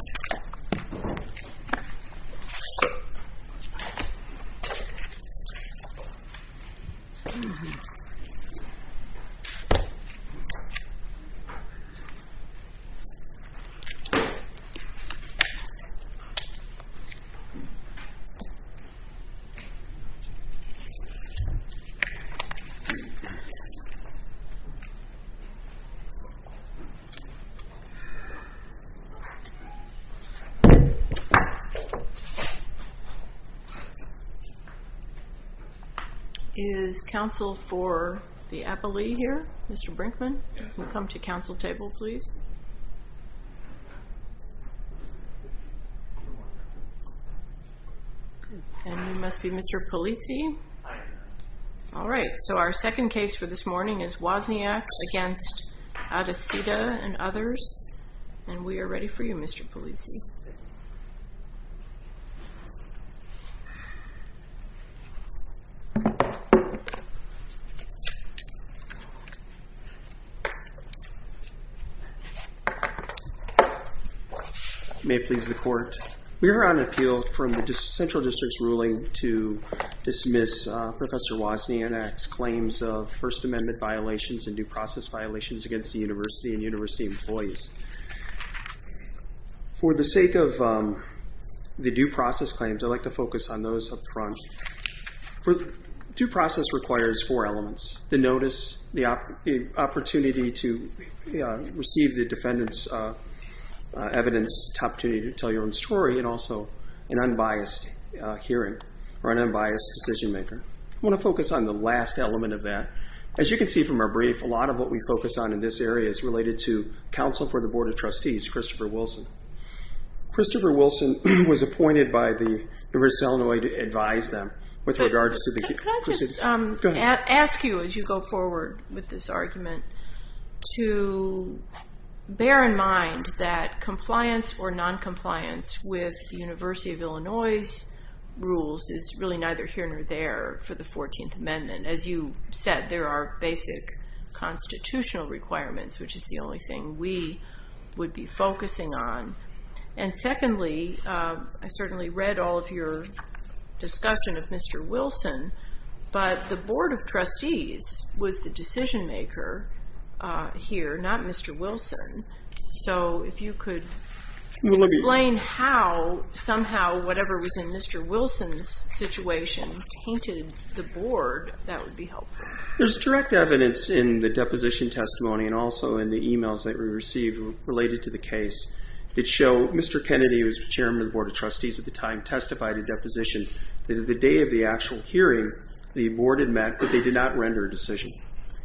President of the United States of America 1 Is counsel for the appellee here? Mr. Brinkman, you can come to counsel table, please. And you must be Mr. Polizzi. All right, so our second case for this morning is Wozniak against Adesita and others. And we are ready for you, Mr. Polizzi. May it please the court. We are on appeal from the central district's ruling to dismiss Professor Wozniak's claims of First Amendment violations and due process violations against the university and university employees. For the sake of the due process claims, I'd like to focus on those up front. Due process requires four elements, the notice, the opportunity to receive the defendant's evidence, the opportunity to tell your own story, and also an unbiased hearing or an unbiased decision maker. I want to focus on the last element of that. As you can see from our brief, a lot of what we focus on in this area is related to counsel for the Board of Trustees, Christopher Wilson. Christopher Wilson was appointed by the University of Illinois to advise them with regards to the... Could I just ask you as you go forward with this argument to bear in mind that compliance or noncompliance with the University of Illinois' rules is really neither here nor there for the 14th Amendment. As you said, there are basic constitutional requirements, which is the only thing we would be focusing on. And secondly, I certainly read all of your discussion of Mr. Wilson, but the Board of Trustees has a decision maker here, not Mr. Wilson. So if you could explain how somehow whatever was in Mr. Wilson's situation tainted the Board, that would be helpful. There's direct evidence in the deposition testimony and also in the emails that we received related to the case that show Mr. Kennedy, who was chairman of the Board of Trustees at the time, testified in deposition that at the day of the actual hearing, the Board had met, but they did not render a decision.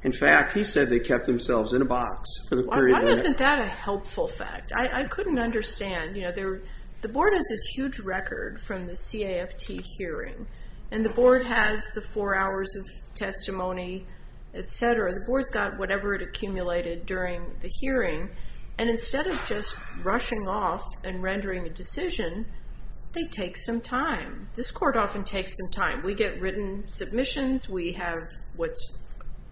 In fact, he said they kept themselves in a box for the period... Why isn't that a helpful fact? I couldn't understand. The Board has this huge record from the CAFT hearing, and the Board has the four hours of testimony, etc. The Board's got whatever it accumulated during the hearing, and instead of just rushing off and rendering a decision, they take some time. This court often takes some time. We get written submissions. We have what's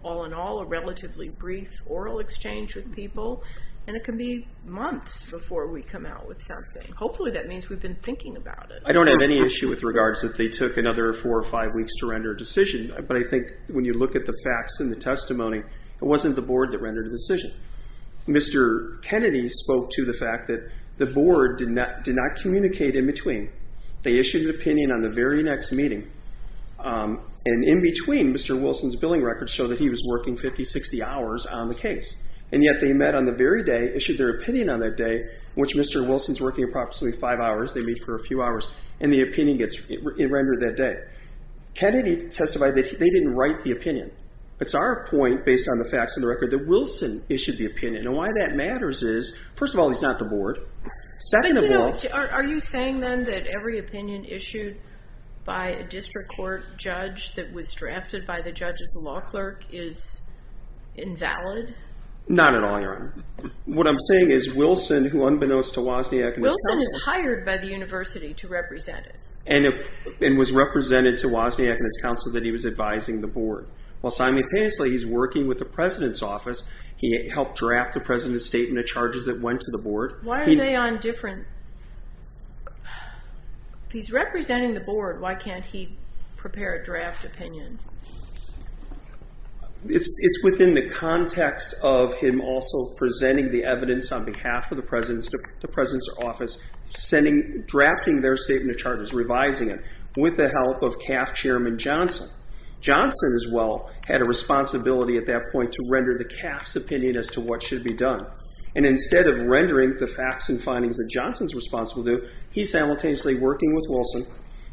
all in all a relatively brief oral exchange with people, and it can be months before we come out with something. Hopefully, that means we've been thinking about it. I don't have any issue with regards that they took another four or five weeks to render a decision, but I think when you look at the facts in the testimony, it wasn't the Board that rendered a decision. Mr. Kennedy spoke to the fact that the Board did not communicate in between. They issued an opinion on the very next meeting, and in between, Mr. Wilson's billing records show that he was working 50, 60 hours on the case, and yet they met on the very day, issued their opinion on that day, in which Mr. Wilson's working approximately five hours. They meet for a few hours, and the opinion gets rendered that day. Kennedy testified that they didn't write the opinion. It's our point, based on the facts of the record, that Wilson issued the opinion, and why that matters is, first of all, he's not the Board. Are you saying then that every opinion issued by a district court judge that was drafted by the judge's law clerk is invalid? Not at all, Your Honor. What I'm saying is, Wilson, who unbeknownst to Wozniak and his counsel- Wilson is hired by the university to represent it. And was represented to Wozniak and his counsel that he was advising the Board. While simultaneously, he's working with the President's office. He helped draft the President's statement of charges that went to the Board. Why are they on different- He's representing the Board. Why can't he prepare a draft opinion? It's within the context of him also presenting the evidence on behalf of the President's office, drafting their statement of charges, revising it, with the help of CAF Chairman Johnson. Johnson, as well, had a responsibility at that point to render the CAF's opinion as to what should be done. And instead of rendering the facts and findings that Johnson's responsible to do, he's simultaneously working with Wilson,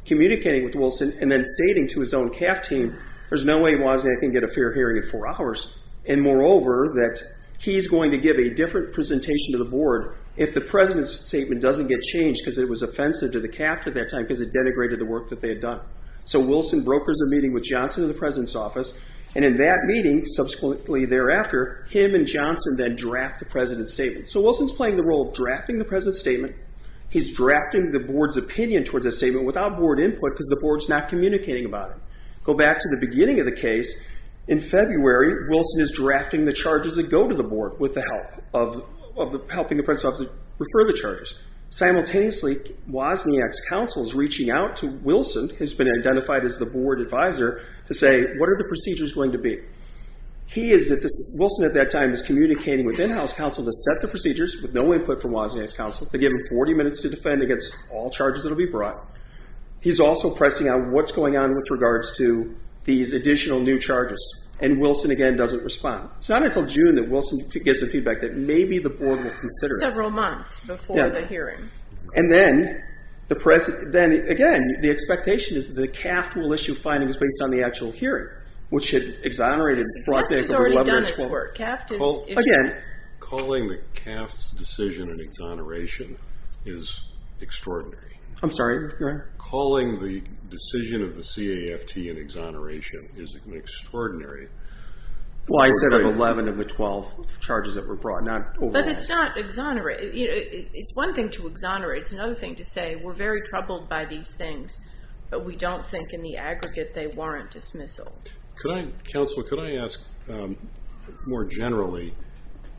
communicating with Wilson, and then stating to his own CAF team, there's no way Wozniak can get a fair hearing in four hours. And moreover, that he's going to give a different presentation to the Board if the President's statement doesn't get changed because it was offensive to the CAF at that time because it denigrated the work that they had done. So Wilson brokers a meeting with Johnson in the President's office, and in that meeting, subsequently thereafter, him and Johnson then draft the President's statement. So Wilson's playing the role of drafting the President's statement. He's drafting the Board's opinion towards the statement without Board input because the Board's not communicating about it. Go back to the beginning of the case. In February, Wilson is drafting the charges that go to the Board with the help of helping the President's office refer the charges. Simultaneously, Wozniak's counsel is reaching out to Wilson, who's been identified as the Board advisor, to say, what are the procedures going to be? Wilson at that time is communicating with in-house counsel to set the procedures with no input from Wozniak's counsel. They give him 40 minutes to defend against all charges that will be brought. He's also pressing on what's going on with regards to these additional new charges, and Wilson again doesn't respond. It's not until June that Wilson gets the feedback that maybe the Board will consider it. Several months before the hearing. And then, again, the expectation is that CAFT will issue findings based on the actual hearing, which had exonerated, brought back over 11 or 12. CAFT has already done its work. Calling the CAFT's decision an exoneration is extraordinary. I'm sorry, you're right. Calling the decision of the CAFT an exoneration is extraordinary. Well, I said of 11 of the 12 charges that were brought, not overall. But it's not exoneration. It's one thing to exonerate. It's another thing to say, we're very troubled by these things, but we don't think in the aggregate they warrant dismissal. Could I, counsel, could I ask more generally,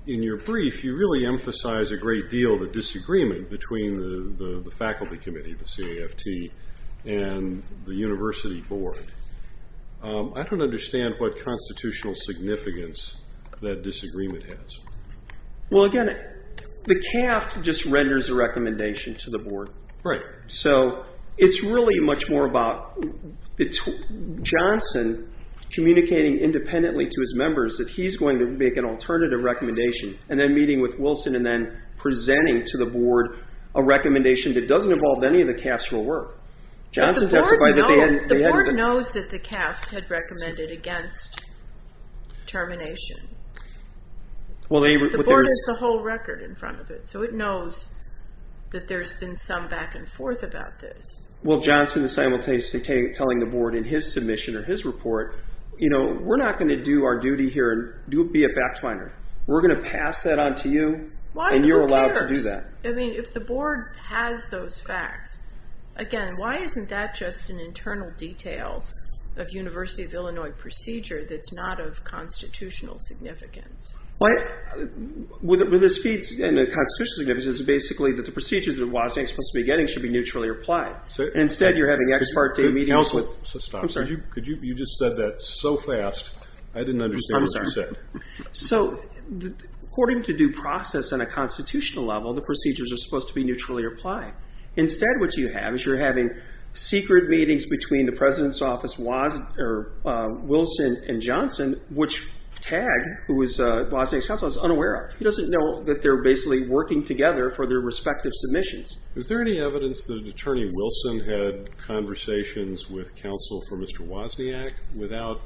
in your brief, you really emphasize a great deal of a disagreement between the Faculty Committee, the CAFT, and the University Board. I don't understand what constitutional significance that disagreement has. Well, again, the CAFT just renders a recommendation to the Board. Right. So it's really much more about Johnson communicating independently to his members that he's going to make an alternative recommendation, and then meeting with Wilson, and then presenting to the Board a recommendation that doesn't involve any of the CAFT's real work. Johnson testified that they hadn't... The Board knows that the CAFT had recommended against termination. The Board has the whole record in front of it, so it knows that there's been some back and forth about this. Well, Johnson is simultaneously telling the Board in his submission or his report, we're not going to do our duty here and be a fact finder. We're going to pass that on to you, and you're allowed to do that. If the Board has those facts, again, why isn't that just an internal detail of University of Illinois procedure that's not of constitutional significance? What this feeds into constitutional significance is basically that the procedures that Washington was supposed to be getting should be neutrally applied. Instead, you're having ex parte meetings with... So stop. I'm sorry. Could you... You just said that so fast, I didn't understand what you said. So according to due process on a constitutional level, the procedures are supposed to be neutrally applied. Instead, what you have is you're having secret meetings between the President's Office, Wilson and Johnson, which Tagg, who was Wasniak's counsel, is unaware of. He doesn't know that they're basically working together for their respective submissions. Is there any evidence that Attorney Wilson had conversations with counsel for Mr. Wasniak without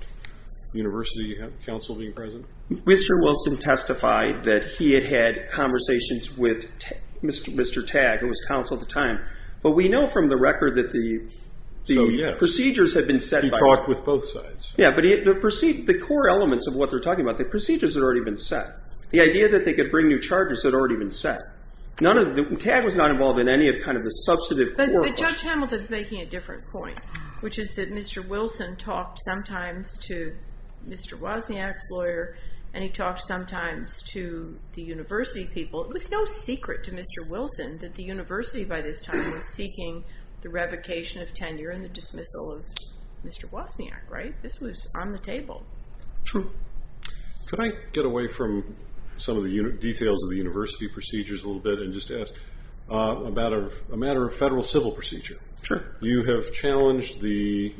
the University counsel being present? Mr. Wilson testified that he had had conversations with Mr. Tagg, who was counsel at the time, but we know from the record that the procedures had been set by... He talked with both sides. Yeah, but the core elements of what they're talking about, the procedures had already been set. The idea that they could bring new charges had already been set. Tagg was not involved in any of the substantive... But Judge Hamilton's making a different point, which is that Mr. Wilson talked sometimes to Mr. Wasniak's lawyer, and he talked sometimes to the University people. It was no secret to Mr. Wilson that the University, by this time, was seeking the revocation of tenure and the dismissal of Mr. Wasniak, right? This was on the table. True. Could I get away from some of the details of the University procedures a little bit and just ask about a matter of federal civil procedure? Sure. You have challenged the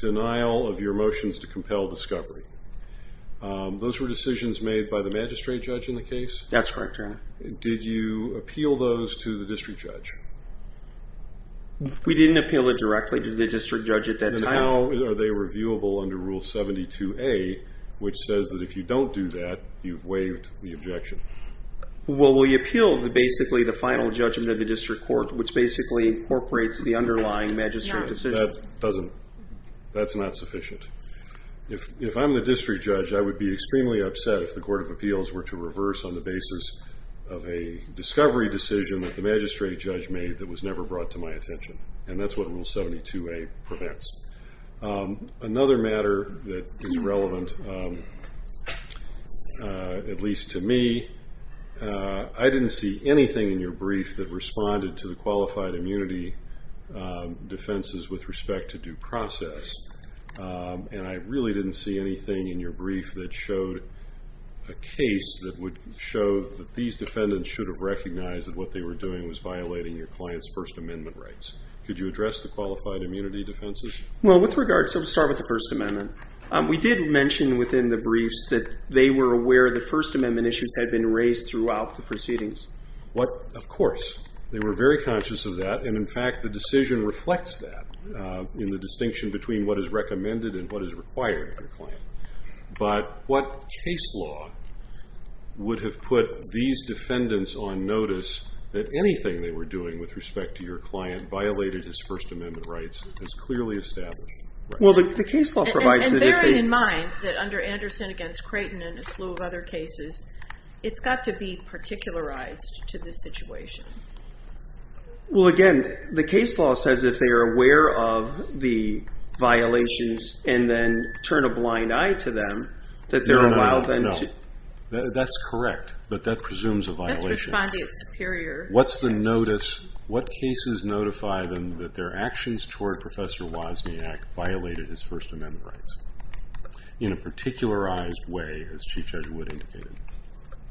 denial of your motions to compel discovery. Those were decisions made by the magistrate judge in the case? That's correct, Your Honor. Did you appeal those to the district judge? We didn't appeal it directly to the district judge at that time. And how are they reviewable under Rule 72A, which says that if you don't do that, you've waived the objection? Well, we appealed basically the final judgment of the district court, which basically incorporates the underlying magistrate decision. No, that doesn't. That's not sufficient. If I'm the district judge, I would be extremely upset if the Court of Appeals were to reverse on the basis of a discovery decision that the magistrate judge made that was never brought to my attention. And that's what Rule 72A prevents. Another matter that is relevant, at least to me, is that I didn't see anything in your brief that responded to the qualified immunity defenses with respect to due process. And I really didn't see anything in your brief that showed a case that would show that these defendants should have recognized that what they were doing was violating your client's First Amendment rights. Could you address the qualified immunity defenses? Well, with regards, let's start with the First Amendment. We did mention within the briefs that they were aware that First Amendment issues had been raised throughout the proceedings. What, of course, they were very conscious of that. And in fact, the decision reflects that in the distinction between what is recommended and what is required of your client. But what case law would have put these defendants on notice that anything they were doing with respect to your client violated his First Amendment rights as clearly established? Well, the case law provides that if they- And bearing in mind that under Anderson against Creighton and a slew of other cases, it's got to be particularized to the situation. Well, again, the case law says if they are aware of the violations and then turn a blind eye to them, that they're allowed then to- No, no, no. That's correct, but that presumes a violation. That's responding to superior- What's the notice? What cases notify them that their actions toward Professor Wisniak violated his First Amendment rights? In a particularized way, as Chief Judge Wood indicated.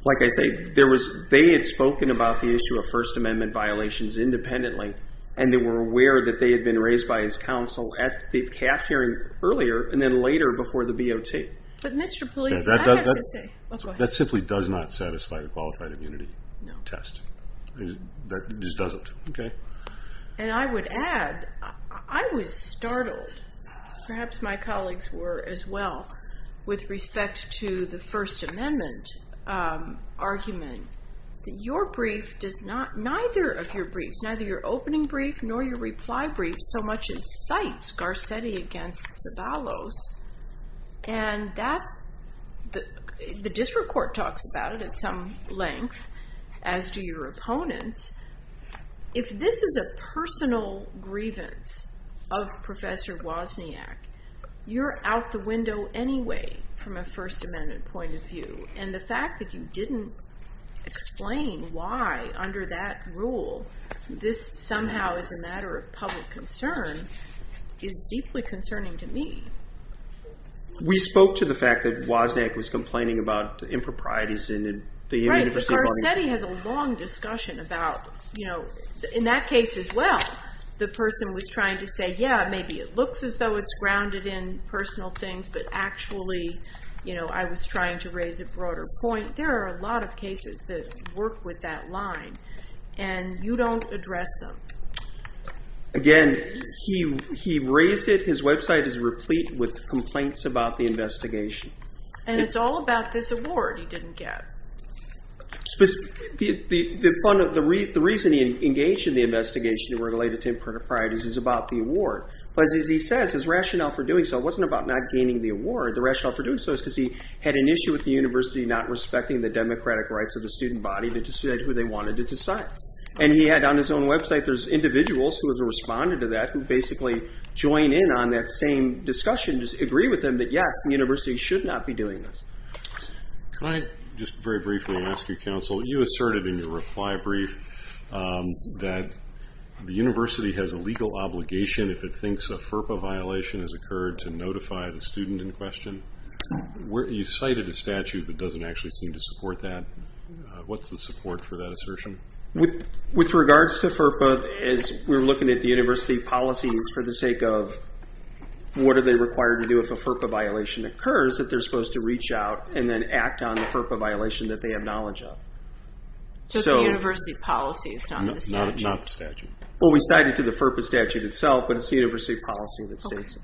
Like I say, they had spoken about the issue of First Amendment violations independently, and they were aware that they had been raised by his counsel at the CAF hearing earlier and then later before the BOT. But Mr. Police, I have to say- That simply does not satisfy a qualified immunity test. That just doesn't. And I would add, I was startled. Perhaps my colleagues were as well with respect to the First Amendment argument that your brief does not, neither of your briefs, neither your opening brief nor your reply brief, so much as cites Garcetti against Zavallos. And the district court talks about it at some length, as do your opponents. If this is a personal grievance of Professor Wisniak, you're out the window anyway from a First Amendment point of view. And the fact that you didn't explain why, under that rule, this somehow is a matter of public concern is deeply concerning to me. We spoke to the fact that Wisniak was complaining about the improprieties in the- Garcetti has a long discussion about, in that case as well, the person was trying to say, yeah, maybe it looks as though it's grounded in personal things, but actually, I was trying to raise a broader point. There are a lot of cases that work with that line and you don't address them. Again, he raised it. His website is replete with complaints about the investigation. And it's all about this award he didn't get. Specifically, the reason he engaged in the investigation that were related to improprieties is about the award. But as he says, his rationale for doing so, it wasn't about not gaining the award. The rationale for doing so is because he had an issue with the university not respecting the democratic rights of the student body to decide who they wanted to decide. And he had on his own website, there's individuals who have responded to that, who basically join in on that same discussion, just agree with him that, yes, the university should not be doing this. Can I just very briefly ask you, counsel, you asserted in your reply brief that the university has a legal obligation if it thinks a FERPA violation has occurred to notify the student in question. You cited a statute that doesn't actually seem to support that. What's the support for that assertion? With regards to FERPA, as we're looking at the university policies for the sake of what are they required to do if a FERPA violation occurs that they're supposed to reach out and then act on the FERPA violation that they have knowledge of? Just the university policy, it's not the statute. Not the statute. Well, we cited to the FERPA statute itself, but it's the university policy that states it.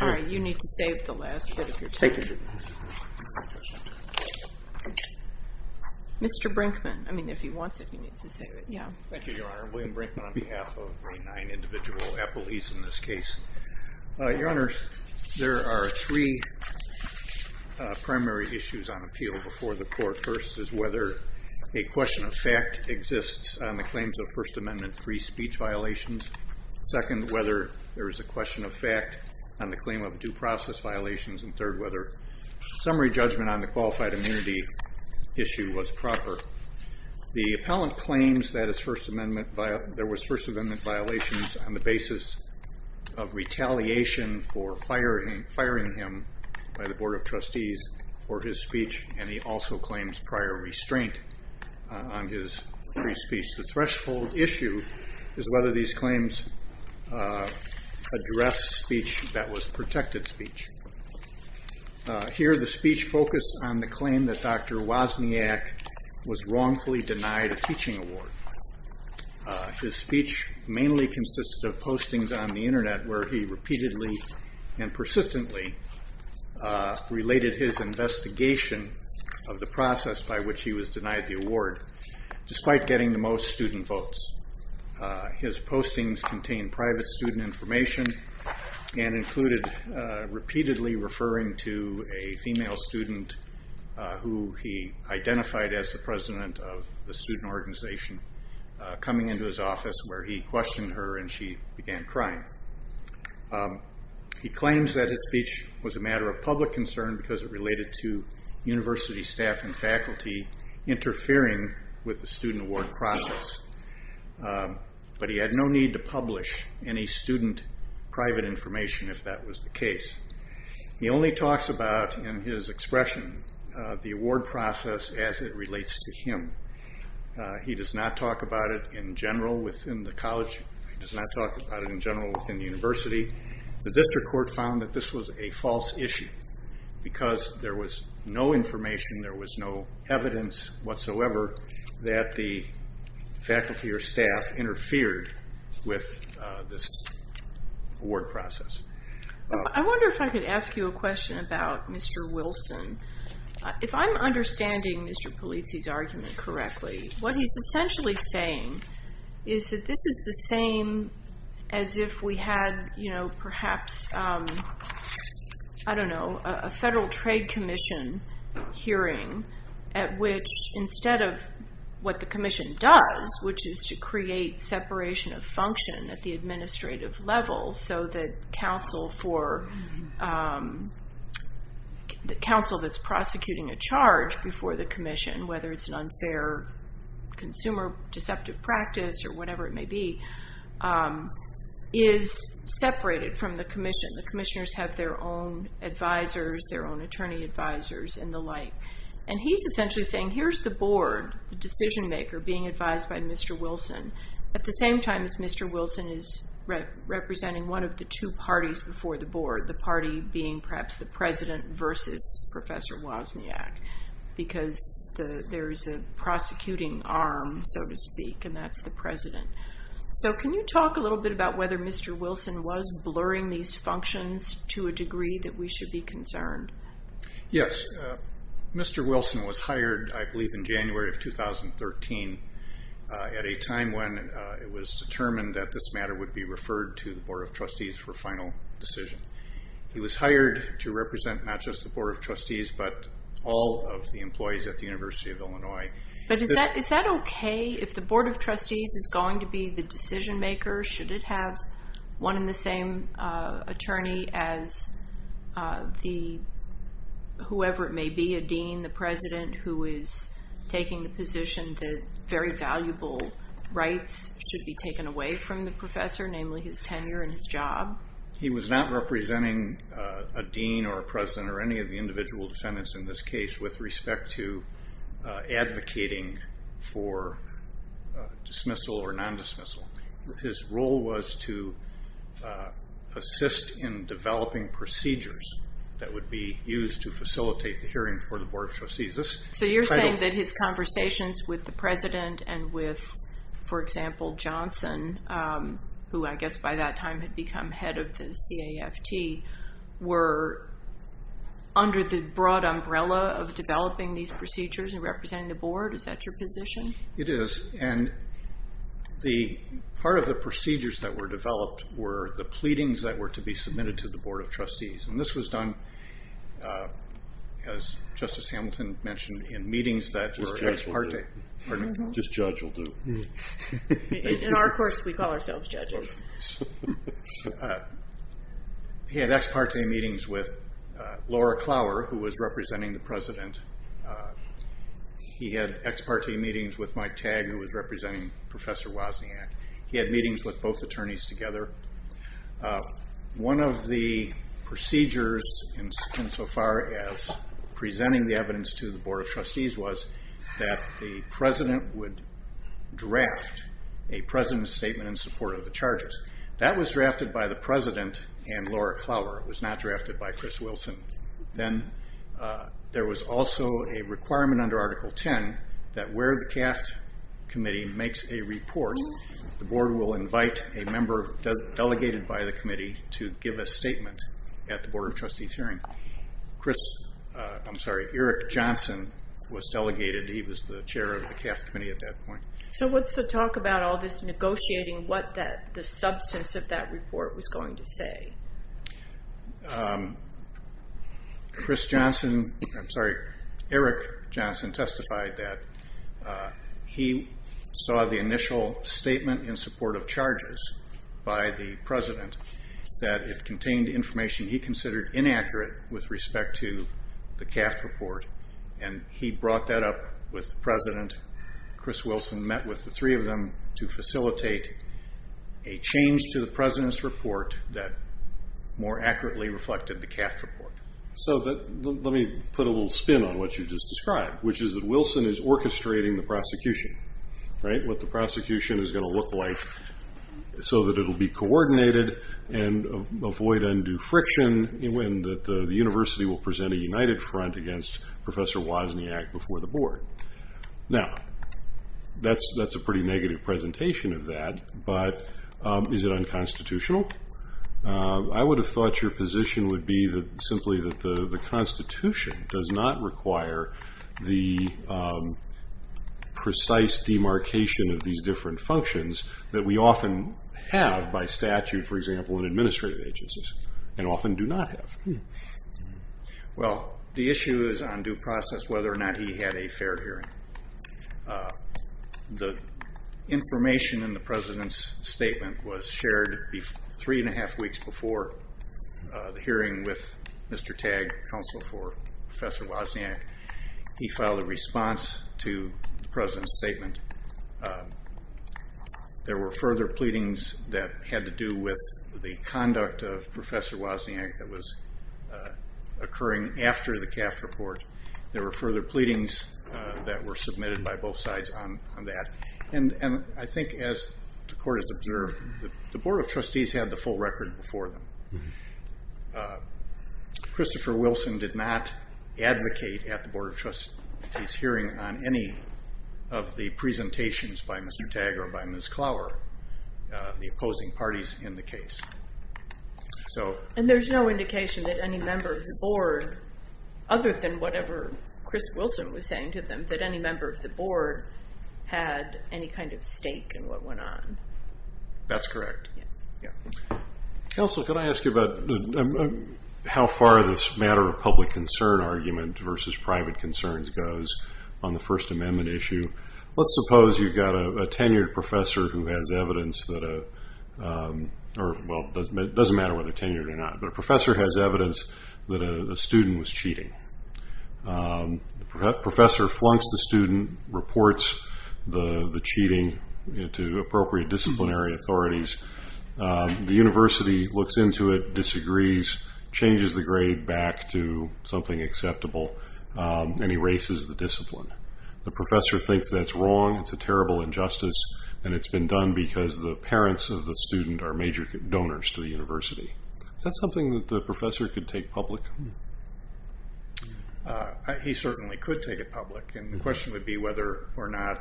All right, you need to save the last bit of your time. Thank you. Mr. Brinkman. I mean, if he wants it, you need to save it. Yeah. Thank you, Your Honor. William Brinkman on behalf of the nine individual appellees in this case. Your Honor, there are three primary issues on appeal before the court. First is whether a question of fact exists on the claims of First Amendment free speech violations. Second, whether there is a question of fact on the claim of due process violations. And third, whether summary judgment on the qualified immunity issue was proper. The appellant claims that there was First Amendment violations on the basis of retaliation for firing him by the Board of Trustees for his speech, and he also claims prior restraint on his free speech. The threshold issue is whether these claims address speech that was protected speech. Here, the speech focused on the claim that Dr. Wozniak was wrongfully denied a teaching award. His speech mainly consisted of postings on the internet where he repeatedly and persistently related his investigation of the process by which he was denied the award, despite getting the most student votes. His postings contained private student information and included repeatedly referring to a female student who he identified as the president of the student organization. Coming into his office where he questioned her and she began crying. He claims that his speech was a matter of public concern because it related to university staff and faculty interfering with the student award process, but he had no need to publish any student private information if that was the case. He only talks about in his expression the award process as it relates to him. He does not talk about it in general within the college. He does not talk about it in general within the university. The district court found that this was a false issue because there was no information, there was no evidence whatsoever that the faculty or staff interfered with this award process. I wonder if I could ask you a question about Mr. Wilson. If I'm understanding Mr. Polizzi's argument correctly, what he's essentially saying is that this is the same as if we had perhaps, I don't know, a federal trade commission hearing at which instead of what the commission does, which is to create separation of function at the administrative level so that counsel that's prosecuting a charge before the commission, whether it's an unfair consumer deceptive practice or whatever it may be, is separated from the commission. The commissioners have their own advisors, their own attorney advisors and the like. He's essentially saying here's the board, the decision maker being advised by Mr. Wilson at the same time as Mr. Wilson is representing one of the two parties before the board, the party being perhaps the president versus Professor Wozniak because there is a prosecuting arm so to speak and that's the president. Can you talk a little bit about whether Mr. Wilson was blurring these functions to a degree that we should be concerned? Yes, Mr. Wilson was hired I believe in January of 2013 at a time when it was determined that this matter would be referred to the board of trustees for final decision. He was hired to represent not just the board of trustees but all of the employees at the University of Illinois. But is that okay if the board of trustees is going to be the decision maker? Should it have one and the same attorney as whoever it may be, a dean, the president who is taking the position that very valuable rights should be taken away from the professor, namely his tenure and his job? He was not representing a dean or a president or any of the individual defendants in this case with respect to advocating for dismissal or non-dismissal. His role was to assist in developing procedures that would be used to facilitate the hearing for the board of trustees. So you're saying that his conversations with the president and with for example Johnson who I guess by that time had become head of the CAFT were under the broad umbrella of developing these procedures and representing the board? Is that your position? It is. And part of the procedures that were developed were the pleadings that were to be submitted to the board of trustees. And this was done as Justice Hamilton mentioned in meetings that were ex parte. Just judge will do. In our course we call ourselves judges. He had ex parte meetings with Laura Clower who was representing the president. He had ex parte meetings with Mike Tagg who was representing Professor Wozniak. He had meetings with both attorneys together. One of the procedures insofar as presenting the evidence to the board of trustees was that the president would draft a president's statement in support of the charges. That was drafted by the president and Laura Clower. It was not drafted by Chris Wilson. Then there was also a requirement under Article 10 that where the CAFT committee makes a report the board will invite a member delegated by the committee to give a statement at the board of trustees hearing. Eric Johnson was delegated. He was the chair of the CAFT committee at that point. So what's the talk about all this negotiating what the substance of that report was going to say? Chris Johnson, I'm sorry, Eric Johnson testified that he saw the initial statement in support of charges by the president that it contained information he considered inaccurate with respect to the CAFT report. He brought that up with the president. Chris Wilson met with the three of them to facilitate a change to the president's report that more accurately reflected the CAFT report. Let me put a little spin on what you just described, which is that Wilson is orchestrating the prosecution. What the prosecution is going to look like so that it will be coordinated and avoid undue friction when the university will present a united front against Professor Wozniak before the board. Now, that's a pretty negative presentation of that, but is it unconstitutional? I would have thought your position would be simply that the constitution does not require the precise demarcation of these different functions that we often have by statute, for example, in administrative agencies, and often do not have. Well, the issue is on due process whether or not he had a fair hearing. The information in the president's statement was shared three and a half weeks before the hearing with Mr. Tagg, counsel for Professor Wozniak. He filed a response to the president's statement. There were further pleadings that had to do with the conduct of Professor Wozniak that was occurring after the CAFT report. There were further pleadings that were submitted by both sides on that. I think as the court has observed, the board of trustees had the full record before them. Christopher Wilson did not advocate at the board of trustees hearing on any of the presentations by Mr. Tagg or by Ms. Clower, the opposing parties in the case. There's no indication that any member of the board, other than whatever Chris Wilson was saying to them, that any member of the board had any kind of stake in what went on. That's correct. Counsel, can I ask you about how far this matter of public concern argument versus private concerns goes on the First Amendment issue? Let's suppose you've got a tenured professor who has evidence that, well, it doesn't matter whether they're tenured or not, but a professor has evidence that a student was cheating. The professor flunks the student, reports the cheating to appropriate disciplinary authorities. The university looks into it, disagrees, changes the grade back to something acceptable, and erases the discipline. The professor thinks that's wrong, it's a terrible injustice, and it's been done because the parents of the student are major donors to the university. Is that something that the professor could take public? He certainly could take it public. The question would be whether or not,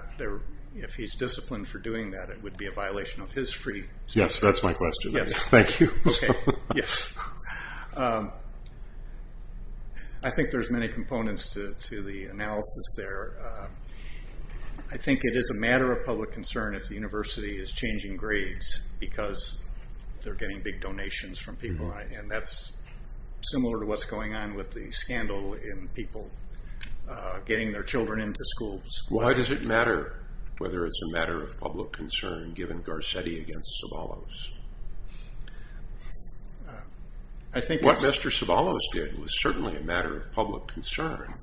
if he's disciplined for doing that, it would be a violation of his free speech. Yes, that's my question. Thank you. Yes. I think there's many components to the analysis there. I think it is a matter of public concern if the university is changing grades because they're getting big donations from people, and that's similar to what's going on with the scandal in people getting their children into schools. Why does it matter whether it's a matter of public concern given Garcetti against Zavallos? I think what Mr. Zavallos did was certainly a matter of public concern,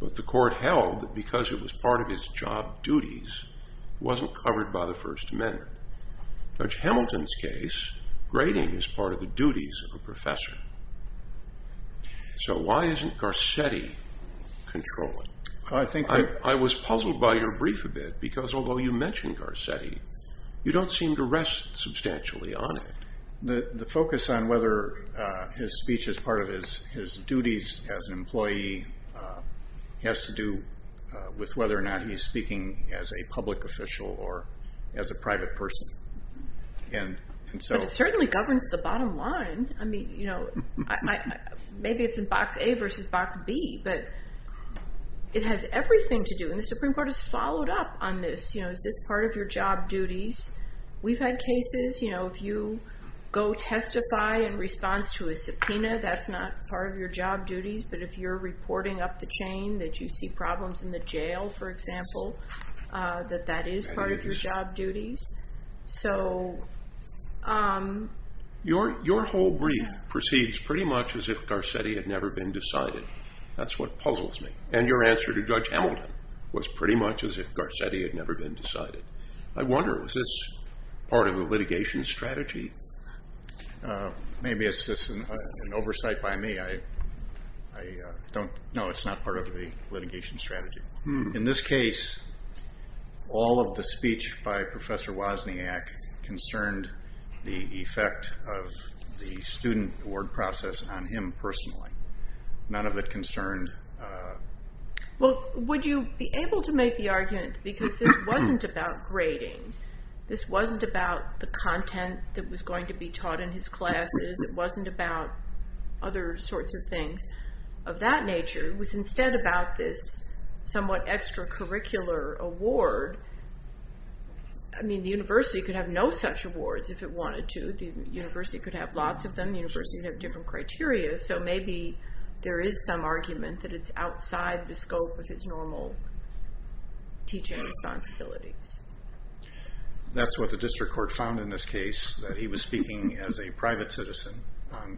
but the court held that because it was part of his job duties, it wasn't covered by the First Amendment. Judge Hamilton's case, grading is part of the duties of a professor. Why isn't Garcetti controlling? I was puzzled by your brief a bit, because although you mentioned Garcetti, you don't seem to rest substantially on it. The focus on whether his speech is part of his duties as an employee has to do with whether or not he's speaking as a public official or as a private person. It certainly governs the bottom line. Maybe it's in box A versus box B, but it has everything to do, and the Supreme Court has followed up on this. Is this part of your job duties? We've had cases. Go testify in response to a subpoena. That's not part of your job duties, but if you're reporting up the chain that you see problems in the jail, for example, that that is part of your job duties. Your whole brief proceeds pretty much as if Garcetti had never been decided. That's what puzzles me, and your answer to Judge Hamilton was pretty much as if Garcetti had never been decided. I wonder, is this part of the litigation strategy? Maybe it's just an oversight by me. I don't know. It's not part of the litigation strategy. In this case, all of the speech by Professor Wozniak concerned the effect of the student award process on him personally. None of it concerned... Would you be able to make the argument, because this wasn't about grading. This wasn't about the content that was going to be taught in his classes. It wasn't about other sorts of things of that nature. It was instead about this somewhat extracurricular award. The university could have no such awards if it wanted to. The university could have lots of them. The university would have different criteria, so maybe there is some argument that it's outside the scope of his normal teaching responsibilities. That's what the district court found in this case, that he was speaking as a private citizen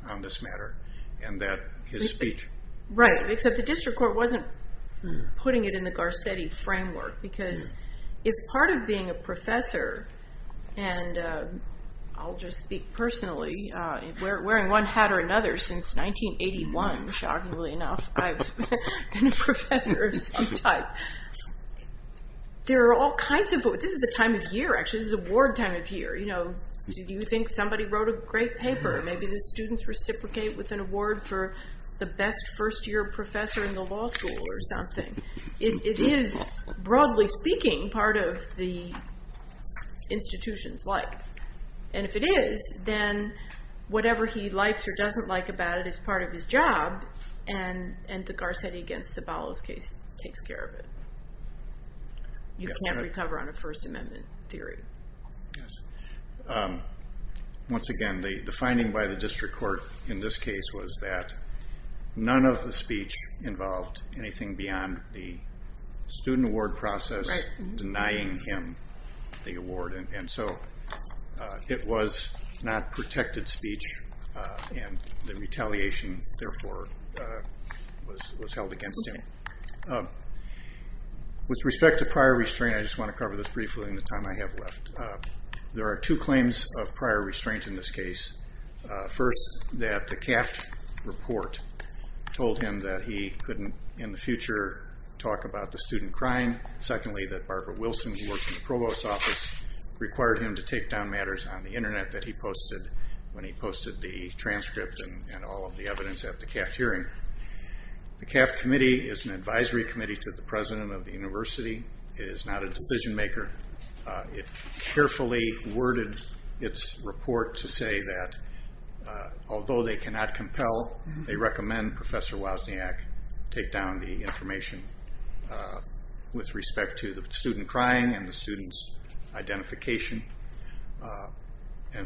on this matter, and that his speech... Right, except the district court wasn't putting it in the Garcetti framework, because if part of being a professor, and I'll just speak personally, wearing one hat or another since 1981, shockingly enough, I've been a professor of some type. There are all kinds of... This is the time of year, actually. This is award time of year. Do you think somebody wrote a great paper? Maybe the students reciprocate with an award for the best first-year professor in the law school or something. It is, broadly speaking, part of the institution's life. If it is, then whatever he likes or doesn't like about it is part of his job, and the Garcetti against Zabala's case takes care of it. You can't recover on a First Amendment theory. Yes. Once again, the finding by the district court in this case was that none of the speech involved anything beyond the student award process denying him the award. It was not protected speech, and the retaliation, therefore, was held against him. With respect to prior restraint, I just want to cover this briefly in the time I have left. There are two claims of prior restraint in this case. First, that the Kaft report told him that he couldn't, in the future, talk about the student crime. Secondly, that Barbara Wilson, who worked in the provost's office, required him to take down matters on the internet that he posted when he posted the transcript and all of the evidence at the Kaft hearing. The Kaft committee is an advisory committee to the president of the university. It is not a decision maker. It carefully worded its report to say that, although they cannot compel, they recommend Professor Wozniak take down the information with respect to the student crime and the student's identification.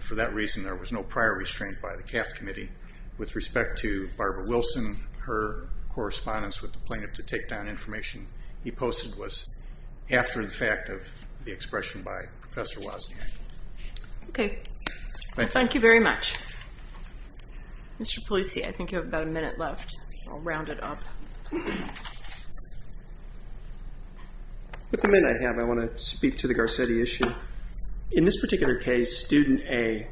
For that reason, there was no prior restraint by the Kaft committee. With respect to Barbara Wilson, her correspondence with the plaintiff to take down information he posted was after the fact of the expression by Professor Wozniak. Okay. Thank you very much. Mr. Polizzi, I think you have about a minute left. I'll round it up. With the minute I have, I want to speak to the Garcetti issue. In this particular case, student A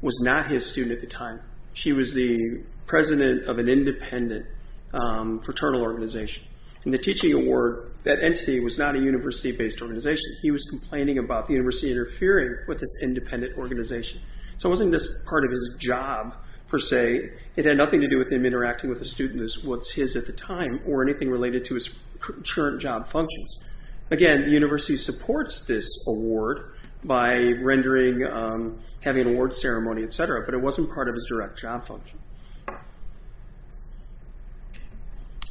was not his student at the time. She was the president of an independent fraternal organization. In the teaching award, that entity was not a university-based organization. He was complaining about the university interfering with his independent organization. It wasn't just part of his job, per se. It had nothing to do with him interacting with a student that was his at the time, or anything related to his current job functions. Again, the university supports this award by having an award ceremony, et cetera, but it wasn't part of his direct job function.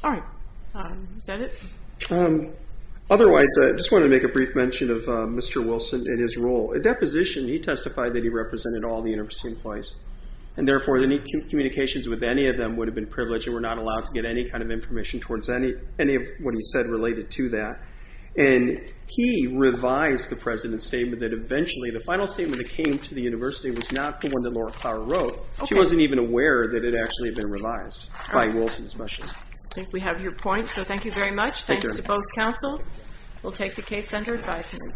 All right. Is that it? Otherwise, I just wanted to make a brief mention of Mr. Wilson and his role. At that position, he testified that he represented all the university employees. Therefore, any communications with any of them would have been privileged. They were not allowed to get any kind of information towards any of what he said related to that. He revised the president's statement that eventually, the final statement that came to the university was not the one that Laura Clower wrote. She wasn't even aware that it had actually been revised by Wilson, especially. I think we have your point, so thank you very much. Thanks to both counsel. We'll take the case under advisement. Thank you.